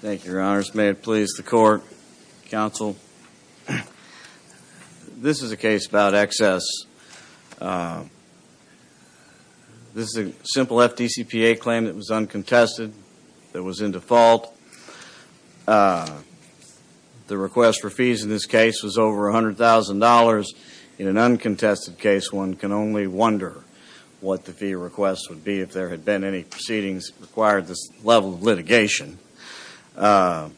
Thank you, Your Honors. May it please the Court, Counsel. This is a case about excess. This is a simple FDCPA claim that was uncontested, that was in default. The request for fees in this case was over $100,000. In an uncontested case, one can only wonder what the fee request would be if there had been any proceedings that required this level of litigation. There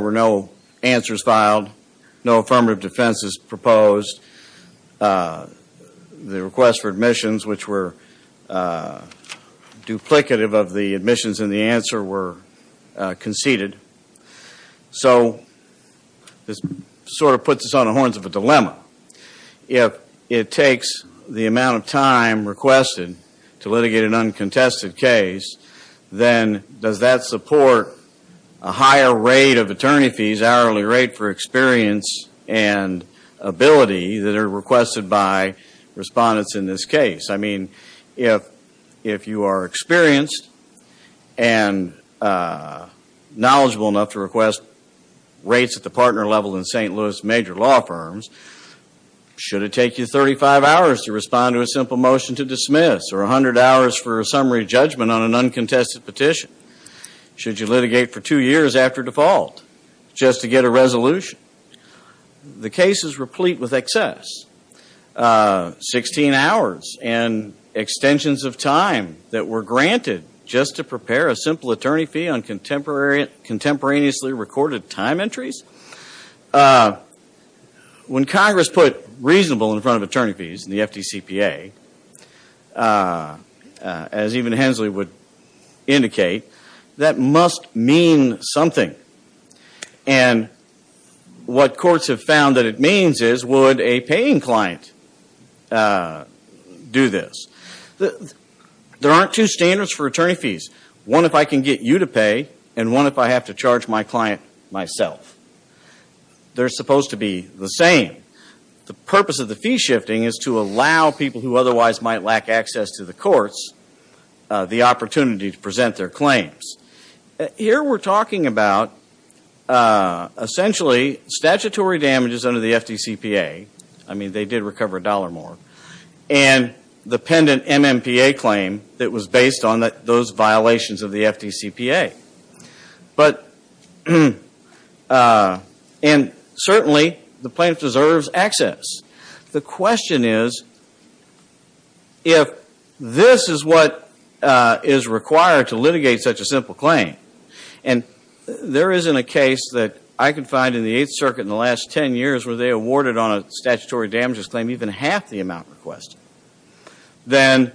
were no answers filed, no affirmative defenses proposed. The request for admissions, which were duplicative of the admissions and the answer, were conceded. So this sort of puts us on the horns of a dilemma. If it takes the amount of time requested to litigate an uncontested case, then does that support a higher rate of attorney fees, hourly rate for experience and ability that are requested by respondents in this case? I mean, if you are experienced and knowledgeable enough to request rates at the partner level in St. Peter's Law Firms, should it take you 35 hours to respond to a simple motion to dismiss or 100 hours for a summary judgment on an uncontested petition? Should you litigate for two years after default just to get a resolution? The case is replete with excess. Sixteen hours and extensions of time that were granted just to prepare a simple attorney fee on contemporaneously recorded time entries? When Congress put reasonable in front of attorney fees in the FDCPA, as even Hensley would indicate, that must mean something. And what courts have found that it means is, would a paying client do this? There aren't two standards for attorney fees. One if I can get you to pay, and one if I have to charge my client myself. They're supposed to be the same. The purpose of the fee shifting is to allow people who otherwise might lack access to the courts the opportunity to present their claims. Here we're talking about essentially statutory damages under the FDCPA. I mean, they did those violations of the FDCPA. And certainly, the plaintiff deserves access. The question is, if this is what is required to litigate such a simple claim, and there isn't a case that I can find in the Eighth Circuit in the last 10 years where they awarded on a statutory damages claim even half the amount requested, then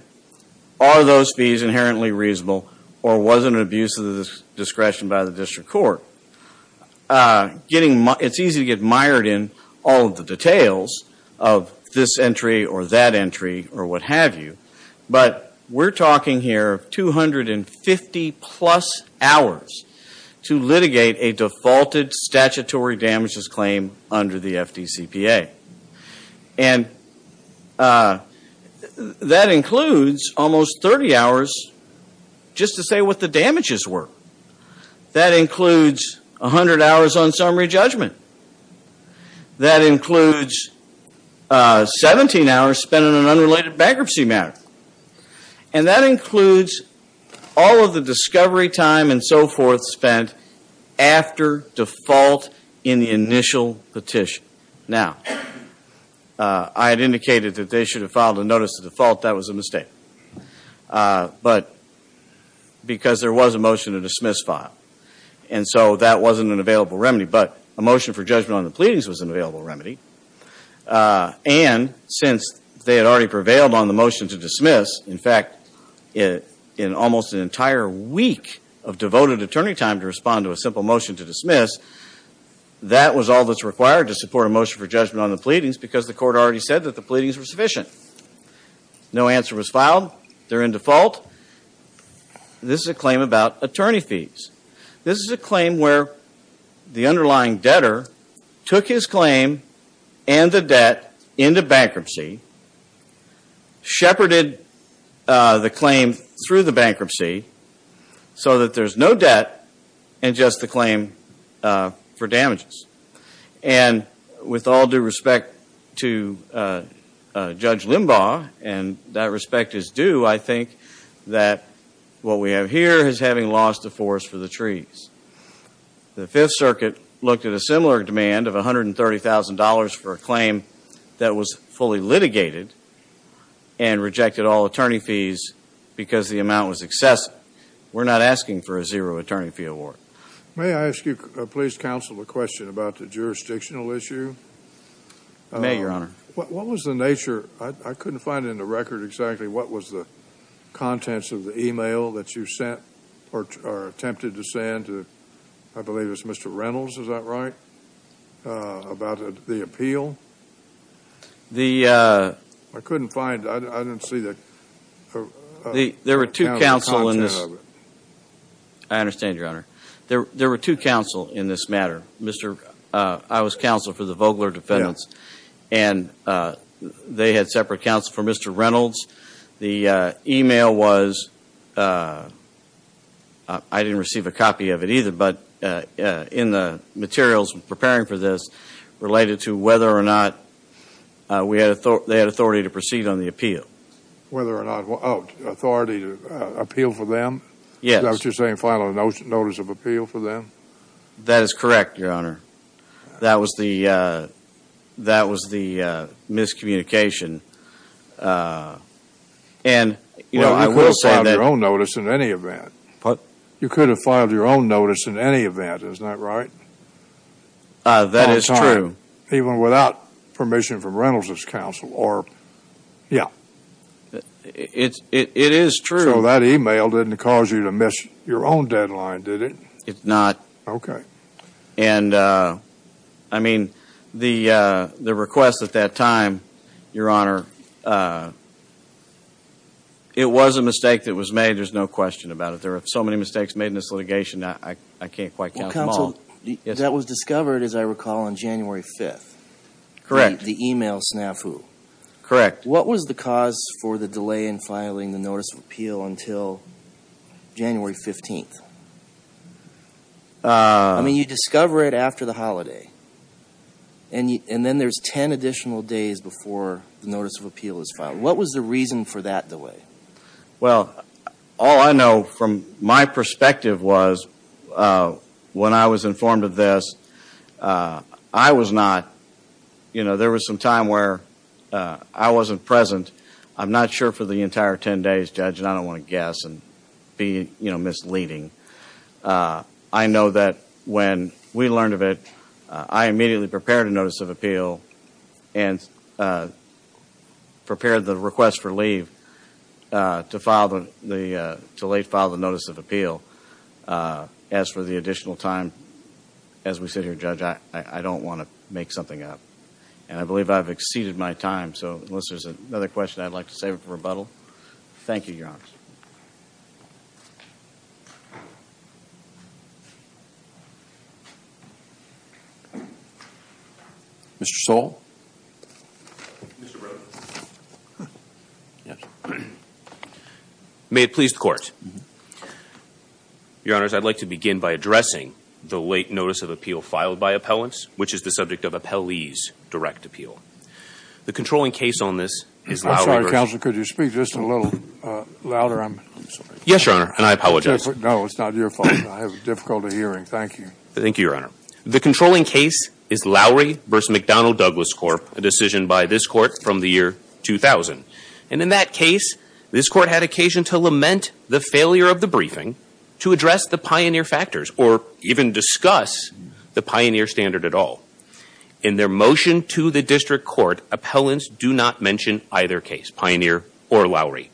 are those fees inherently reasonable, or was it an abuse of discretion by the district court? It's easy to get mired in all of the details of this entry, or that entry, or what have you. But we're talking here of 250 plus hours to litigate a defaulted statutory damages claim under the FDCPA. And that includes almost 30 hours just to say what the damages were. That includes 100 hours on summary judgment. That includes 17 hours spent on an unrelated bankruptcy matter. And that includes all of the discovery time and so forth spent after default in the initial petition. Now, I had indicated that they should have filed a notice to default. That was a mistake. But because there was a motion to dismiss file. And so that wasn't an available remedy. But a motion for judgment on the pleadings was an available remedy. And since they had already prevailed on the motion to dismiss, in fact, in almost an entire week of devoted attorney time to respond to a simple motion to dismiss, that was all that's required to support a motion for judgment on the pleadings because the court already said that the pleadings were sufficient. No answer was filed. They're in default. This is a claim about attorney fees. This is a claim where the underlying debtor took his claim and the debt into bankruptcy, shepherded the claim through the bankruptcy so that there's no debt and just the claim for damages. And with all due respect to Judge Limbaugh, and that respect is due, I think that what we have here is having lost the forest for the trees. The Fifth Circuit looked at a similar demand of $130,000 for a claim that was fully litigated and rejected all attorney fees because the amount was excessive. We're not asking for a zero attorney fee award. May I ask you, please, counsel, a question about the jurisdictional issue? May, Your Honor. What was the nature, I couldn't find in the record exactly what was the contents of the email that you sent or attempted to send to, I believe it was Mr. Reynolds, is that right, about the appeal? I couldn't find, I didn't see the content of it. There were two counsel in this. I understand, Your Honor. There were two counsel in this case. And they had separate counsel for Mr. Reynolds. The email was, I didn't receive a copy of it either, but in the materials preparing for this related to whether or not we had, they had authority to proceed on the appeal. Whether or not, oh, authority to appeal for them? Yes. Is that what you're saying, a final notice of appeal for them? That is correct, Your Honor. That was the, that was the miscommunication. And, you know, I will say that... Well, you could have filed your own notice in any event. What? You could have filed your own notice in any event, isn't that right? That is true. All the time, even without permission from Reynolds' counsel or, yeah. It is true. So that email didn't cause you to miss your own deadline, did it? It's not. Okay. And, I mean, the request at that time, Your Honor, it was a mistake that was made. There's no question about it. There were so many mistakes made in this litigation, I can't quite count them all. Well, counsel, that was discovered, as I recall, on January 5th. Correct. The email snafu. Correct. What was the cause for the delay in filing the notice of appeal until January 15th? I mean, you discover it after the holiday, and then there's 10 additional days before the notice of appeal is filed. What was the reason for that delay? Well, all I know from my perspective was, when I was informed of this, I was not, you know, there was some time where I wasn't present. I'm not sure for the entire 10 days, Judge, and I don't want to guess and be, you know, misleading. I know that when we learned of it, I immediately prepared a notice of appeal and prepared the request for leave to late file the notice of appeal. As for the additional time, as we sit here, Judge, I don't want to make something up. And I believe I've exceeded my time, so unless there's another question I'd like to save it for rebuttal. Thank you, Your Honor. Mr. Soule. Mr. Brewer. Yes. May it please the Court. Your Honors, I'd like to begin by addressing the late notice of appeal filed by appellants, which is the subject of appellee's direct appeal. The controlling case on this is Lowry v. I'm sorry, Counselor, could you speak just a little louder? I'm sorry. Yes, Your Honor, and I apologize. No, it's not your fault. I have difficulty hearing. Thank you. Thank you, Your Honor. The controlling case is Lowry v. McDonnell Douglas Corp., a decision by this Court from the year 2000. And in that case, this Court had occasion to lament the failure of the briefing to address the pioneer factors or even discuss the pioneer standard at all. In their motion to the District Court, appellants do not mention either case, pioneer or Lowry.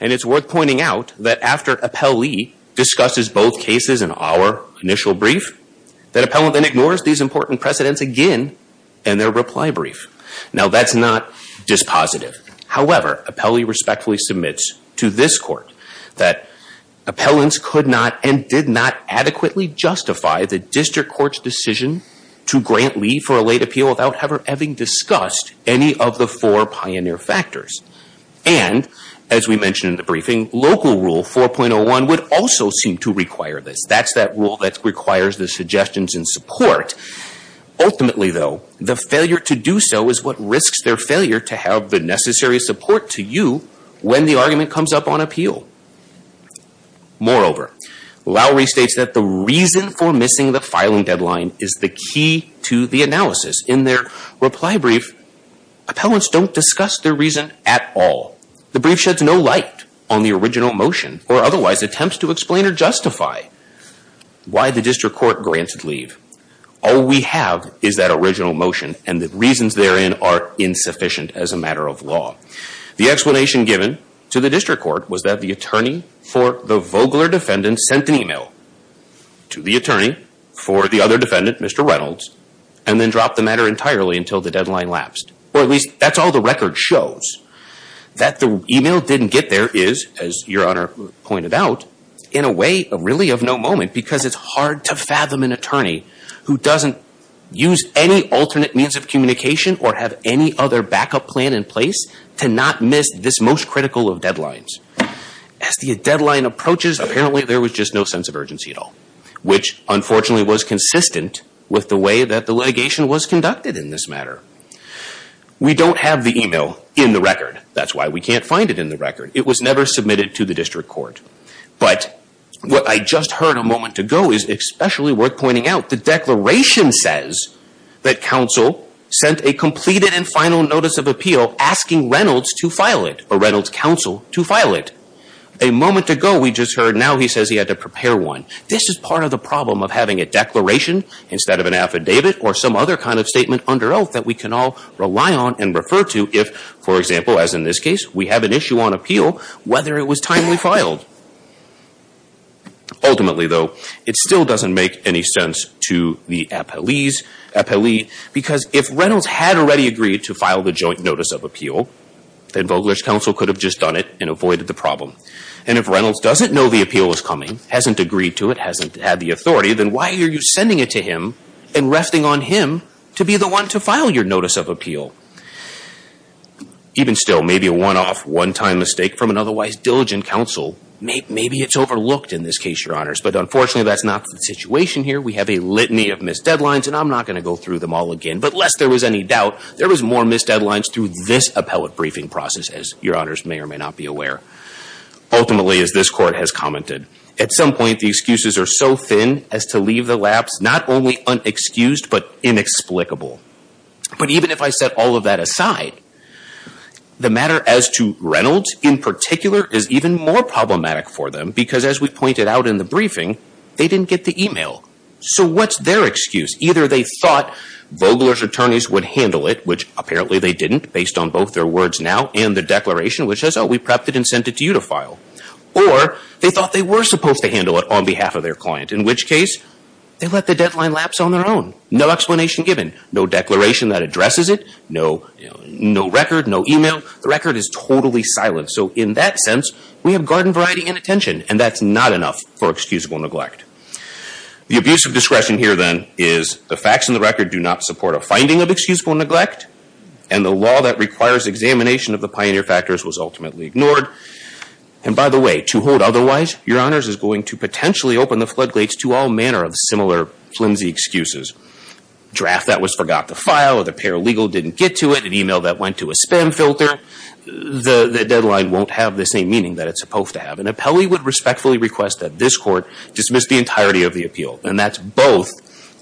And it's worth pointing out that after appellee discusses both cases in our initial brief, that appellant then ignores these important precedents again in their reply brief. Now, that's not dispositive. However, appellee respectfully submits to this Court that appellants could not and did not adequately justify the District Court's decision to grant leave for a late appeal without ever having discussed any of the four pioneer factors. And as we mentioned in the briefing, local rule 4.01 would also seem to require this. That's that rule that requires the suggestions and support. Ultimately, though, the failure to do so is what risks their failure to have the necessary support to you when the argument comes up on appeal. Moreover, Lowry states that the reason for missing the filing deadline is the key to the analysis. In their reply brief, appellants don't discuss their reason at all. The brief sheds no light on the original motion or otherwise attempts to explain or justify why the District Court granted leave. All we have is that original motion and the reasons therein are insufficient as a matter of law. The explanation given to the District Court was that the attorney for the Vogler defendant sent an email to the attorney for the other defendant, Mr. Reynolds, and then dropped the matter entirely until the deadline lapsed. Or at least that's all the record shows. That the email didn't get there is, as Your Honor pointed out, in a way really of no moment because it's hard to fathom an attorney who doesn't use any alternate means of communication or have any other backup plan in place to not miss this most critical of deadlines. As the deadline approaches, apparently there was just no sense of urgency at all, which unfortunately was consistent with the way that the litigation was conducted in this matter. We don't have the email in the record. That's why we can't find it in the record. It was never submitted to the District Court. But what I just heard a moment ago is especially worth pointing out. The declaration says that counsel sent a completed and final notice of appeal asking Reynolds to file it or Reynolds' counsel to file it. A moment ago, we just heard now he says he had to prepare one. This is part of the problem of having a declaration instead of an affidavit or some other kind of statement under oath that we can all rely on and refer to if, for example, as in this case, we have an issue on appeal, whether it was timely filed. Ultimately, though, it still doesn't make any sense to the appellees because if it was timely, then Vogler's counsel could have just done it and avoided the problem. And if Reynolds doesn't know the appeal is coming, hasn't agreed to it, hasn't had the authority, then why are you sending it to him and resting on him to be the one to file your notice of appeal? Even still, maybe a one-off, one-time mistake from an otherwise diligent counsel, maybe it's overlooked in this case, Your Honors. But unfortunately, that's not the situation here. We have a litany of missed deadlines, and I'm not going to go through them all again. But lest there was any doubt, there was more missed deadlines through this appellate briefing process, as Your Honors may or may not be aware. Ultimately, as this Court has commented, at some point, the excuses are so thin as to leave the lapse not only unexcused, but inexplicable. But even if I set all of that aside, the matter as to Reynolds in particular is even more problematic for them because as we pointed out in the briefing, they didn't get the email. So what's their excuse? Either they thought Vogler's attorneys would handle it, which apparently they didn't based on both their words now and the declaration, which says, oh, we prepped it and sent it to you to file. Or they thought they were supposed to handle it on behalf of their client, in which case they let the deadline lapse on their own. No explanation given. No declaration that addresses it. No record. No email. The record is totally silent. So in that sense, we have garden variety inattention, and that's not enough for excusable neglect. The abuse of finding of excusable neglect and the law that requires examination of the pioneer factors was ultimately ignored. And by the way, to hold otherwise, your honors is going to potentially open the floodgates to all manner of similar flimsy excuses. Draft that was forgot to file, the paralegal didn't get to it, an email that went to a spam filter. The deadline won't have the same meaning that it's supposed to have. An appellee would respectfully request that this court dismiss the entirety of the appeal. And that's both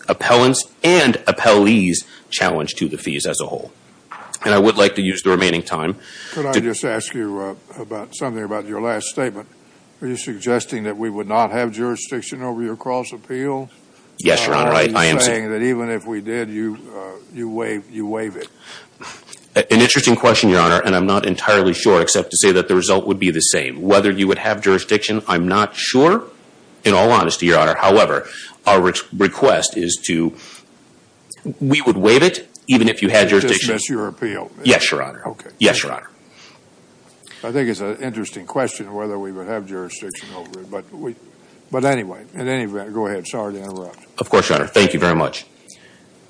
appellant's and appellee's challenge to the fees as a whole. And I would like to use the remaining time to- Could I just ask you about something about your last statement? Are you suggesting that we would not have jurisdiction over your cross appeal? Yes, your honor. I am saying that even if we did, you waive it. An interesting question, your honor, and I'm not entirely sure except to say that the result would be the same. Whether you would have jurisdiction, I'm not sure. In all honesty, your honor, however, our request is to, we would waive it even if you had jurisdiction. To dismiss your appeal? Yes, your honor. Okay. Yes, your honor. I think it's an interesting question whether we would have jurisdiction over it. But anyway, in any event, go ahead. Sorry to interrupt. Of course, your honor. Thank you very much.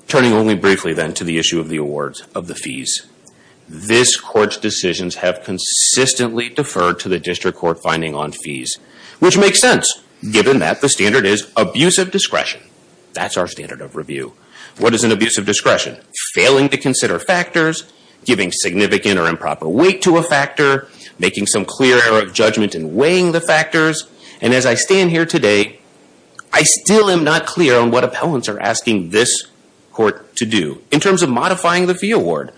Turning only briefly then to the issue of the awards of the fees. This court's decisions have consistently deferred to the district court finding on fees, which makes sense given that the standard is abusive discretion. That's our standard of review. What is an abusive discretion? Failing to consider factors, giving significant or improper weight to a factor, making some clear error of judgment in weighing the factors. And as I stand here today, I still am not clear on what appellants are qualifying the fee award.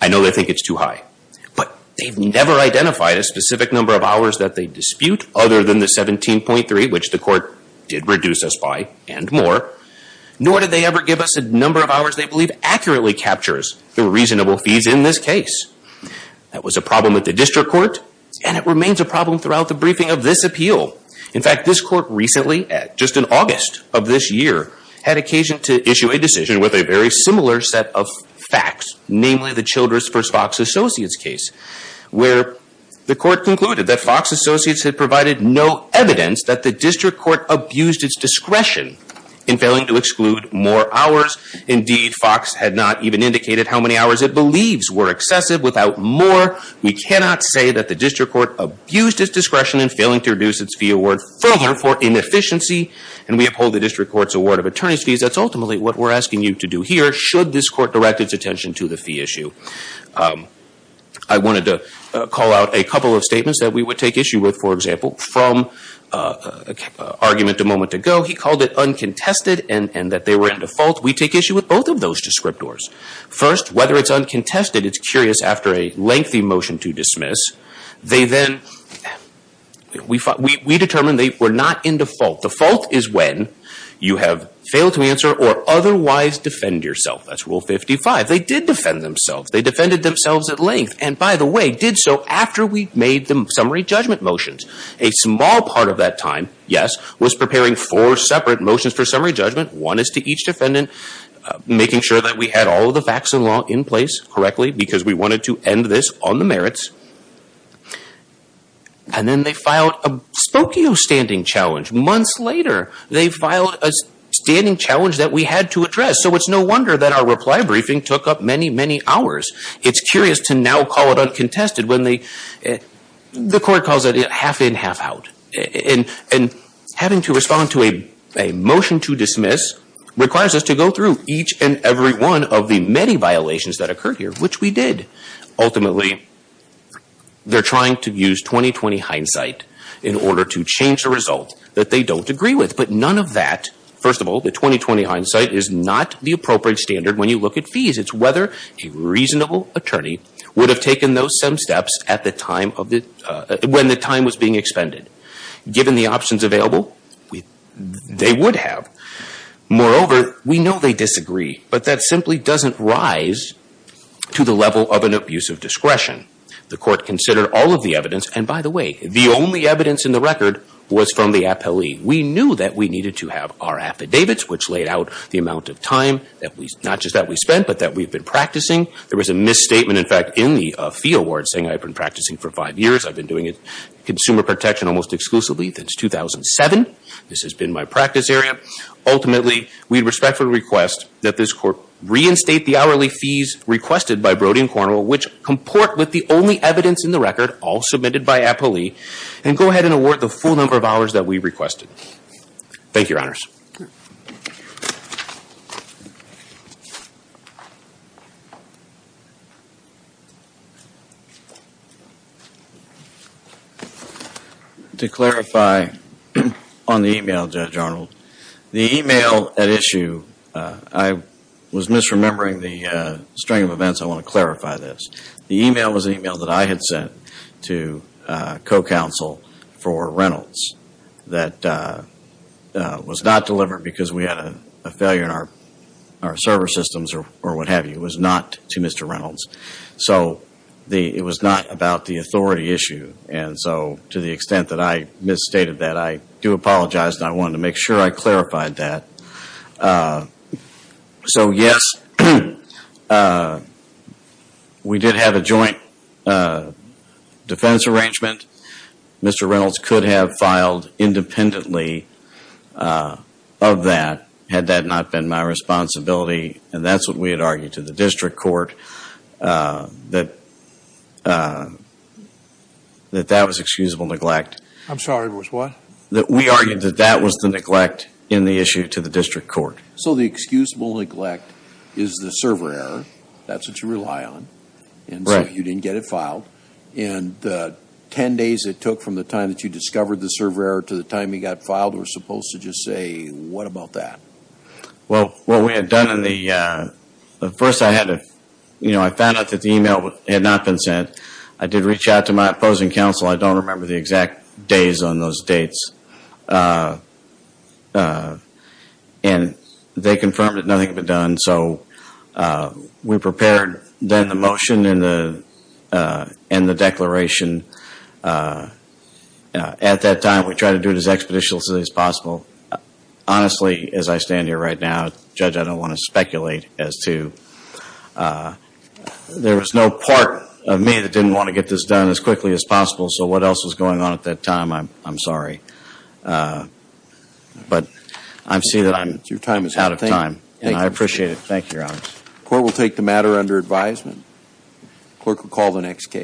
I know they think it's too high. But they've never identified a specific number of hours that they dispute other than the 17.3, which the court did reduce us by and more. Nor did they ever give us a number of hours they believe accurately captures the reasonable fees in this case. That was a problem with the district court and it remains a problem throughout the briefing of this appeal. In fact, this court recently, just in August of this year, had occasion to issue a decision with a very similar set of facts, namely the Childress v. Fox Associates case, where the court concluded that Fox Associates had provided no evidence that the district court abused its discretion in failing to exclude more hours. Indeed, Fox had not even indicated how many hours it believes were excessive. Without more, we cannot say that the district court abused its discretion in failing to reduce its fee award further for inefficiency. And we uphold the district court's award of attorney's fees. That's ultimately what we're asking you to do here should this court direct its attention to the fee issue. I wanted to call out a couple of statements that we would take issue with. For example, from argument a moment ago, he called it uncontested and that they were in default. We take issue with both of those descriptors. First, whether it's uncontested, it's curious after a lengthy motion to dismiss. They then, we determined they were not in default. Default is when you have failed to answer or otherwise defend yourself. That's Rule 55. They did defend themselves. They defended themselves at length. And by the way, did so after we made the summary judgment motions. A small part of that time, yes, was preparing four separate motions for summary judgment. One is to each defendant, making sure that we had all of the facts in place correctly because we wanted to end this on the merits. And then they filed a Spokio standing challenge. Months later, they filed a standing challenge that we had to address. So it's no wonder that our reply briefing took up many, many hours. It's curious to now call it uncontested when the court calls it half in, half out. And having to respond to a motion to dismiss requires us to go through each and every one of the many violations that occurred here, which we did. Ultimately, they're trying to use 20-20 hindsight in order to change the result that they don't agree with. But none of that, first of all, the 20-20 hindsight is not the appropriate standard when you look at fees. It's whether a reasonable attorney would have taken those same steps at the time of the, when the time was being expended. Given the options available, they would have. Moreover, we know they disagree. But that simply doesn't rise to the level of an abuse of discretion. The court considered all of the evidence. And by the way, the only evidence in the record was from the appellee. We knew that we needed to have our affidavits, which laid out the amount of time that we, not just that we spent, but that we've been practicing. There was a misstatement, in fact, in the fee award saying I've been practicing for five years. I've been doing consumer protection almost exclusively since 2007. This has been my practice area. Ultimately, we respectfully request that this court reinstate the hourly fees requested by Brody and Cornwell, which comport with the only evidence in the record, all submitted by appellee, and go ahead and award the full number of hours that we requested. Thank you, Your Honors. To clarify on the email, Judge Arnold, the email at issue, I was misremembering the string of events. I want to clarify this. The email was an email that I had sent to co-counsel for Reynolds that was not delivered because we had a failure in our server systems or what have you. It was not to Mr. Reynolds. So, it was not about the authority issue. And so, to the extent that I misstated that, I do apologize and I wanted to make sure I was clear. We did have a joint defense arrangement. Mr. Reynolds could have filed independently of that had that not been my responsibility. And that's what we had argued to the district court, that that was excusable neglect. I'm sorry, it was what? We argued that that was the neglect in the issue to the district court. So, the excusable neglect is the server error. That's what you rely on, and so you didn't get it filed. And the 10 days it took from the time that you discovered the server error to the time it got filed, we're supposed to just say, what about that? Well, what we had done in the first, I found out that the email had not been sent. I did reach out to my opposing counsel. I don't remember the exact days on those dates. And they confirmed that nothing had been done. So, we prepared then the motion and the declaration. At that time, we tried to do it as expeditiously as possible. Honestly, as I stand here right now, Judge, I don't want to speculate as to, there was no part of me that didn't want to get this done as quickly as possible. So, what else was going on at that time, I'm sorry. But, I see that I'm out of time, and I appreciate it. Thank you, Your Honor. Court will take the matter under advisement. Clerk will call the next case.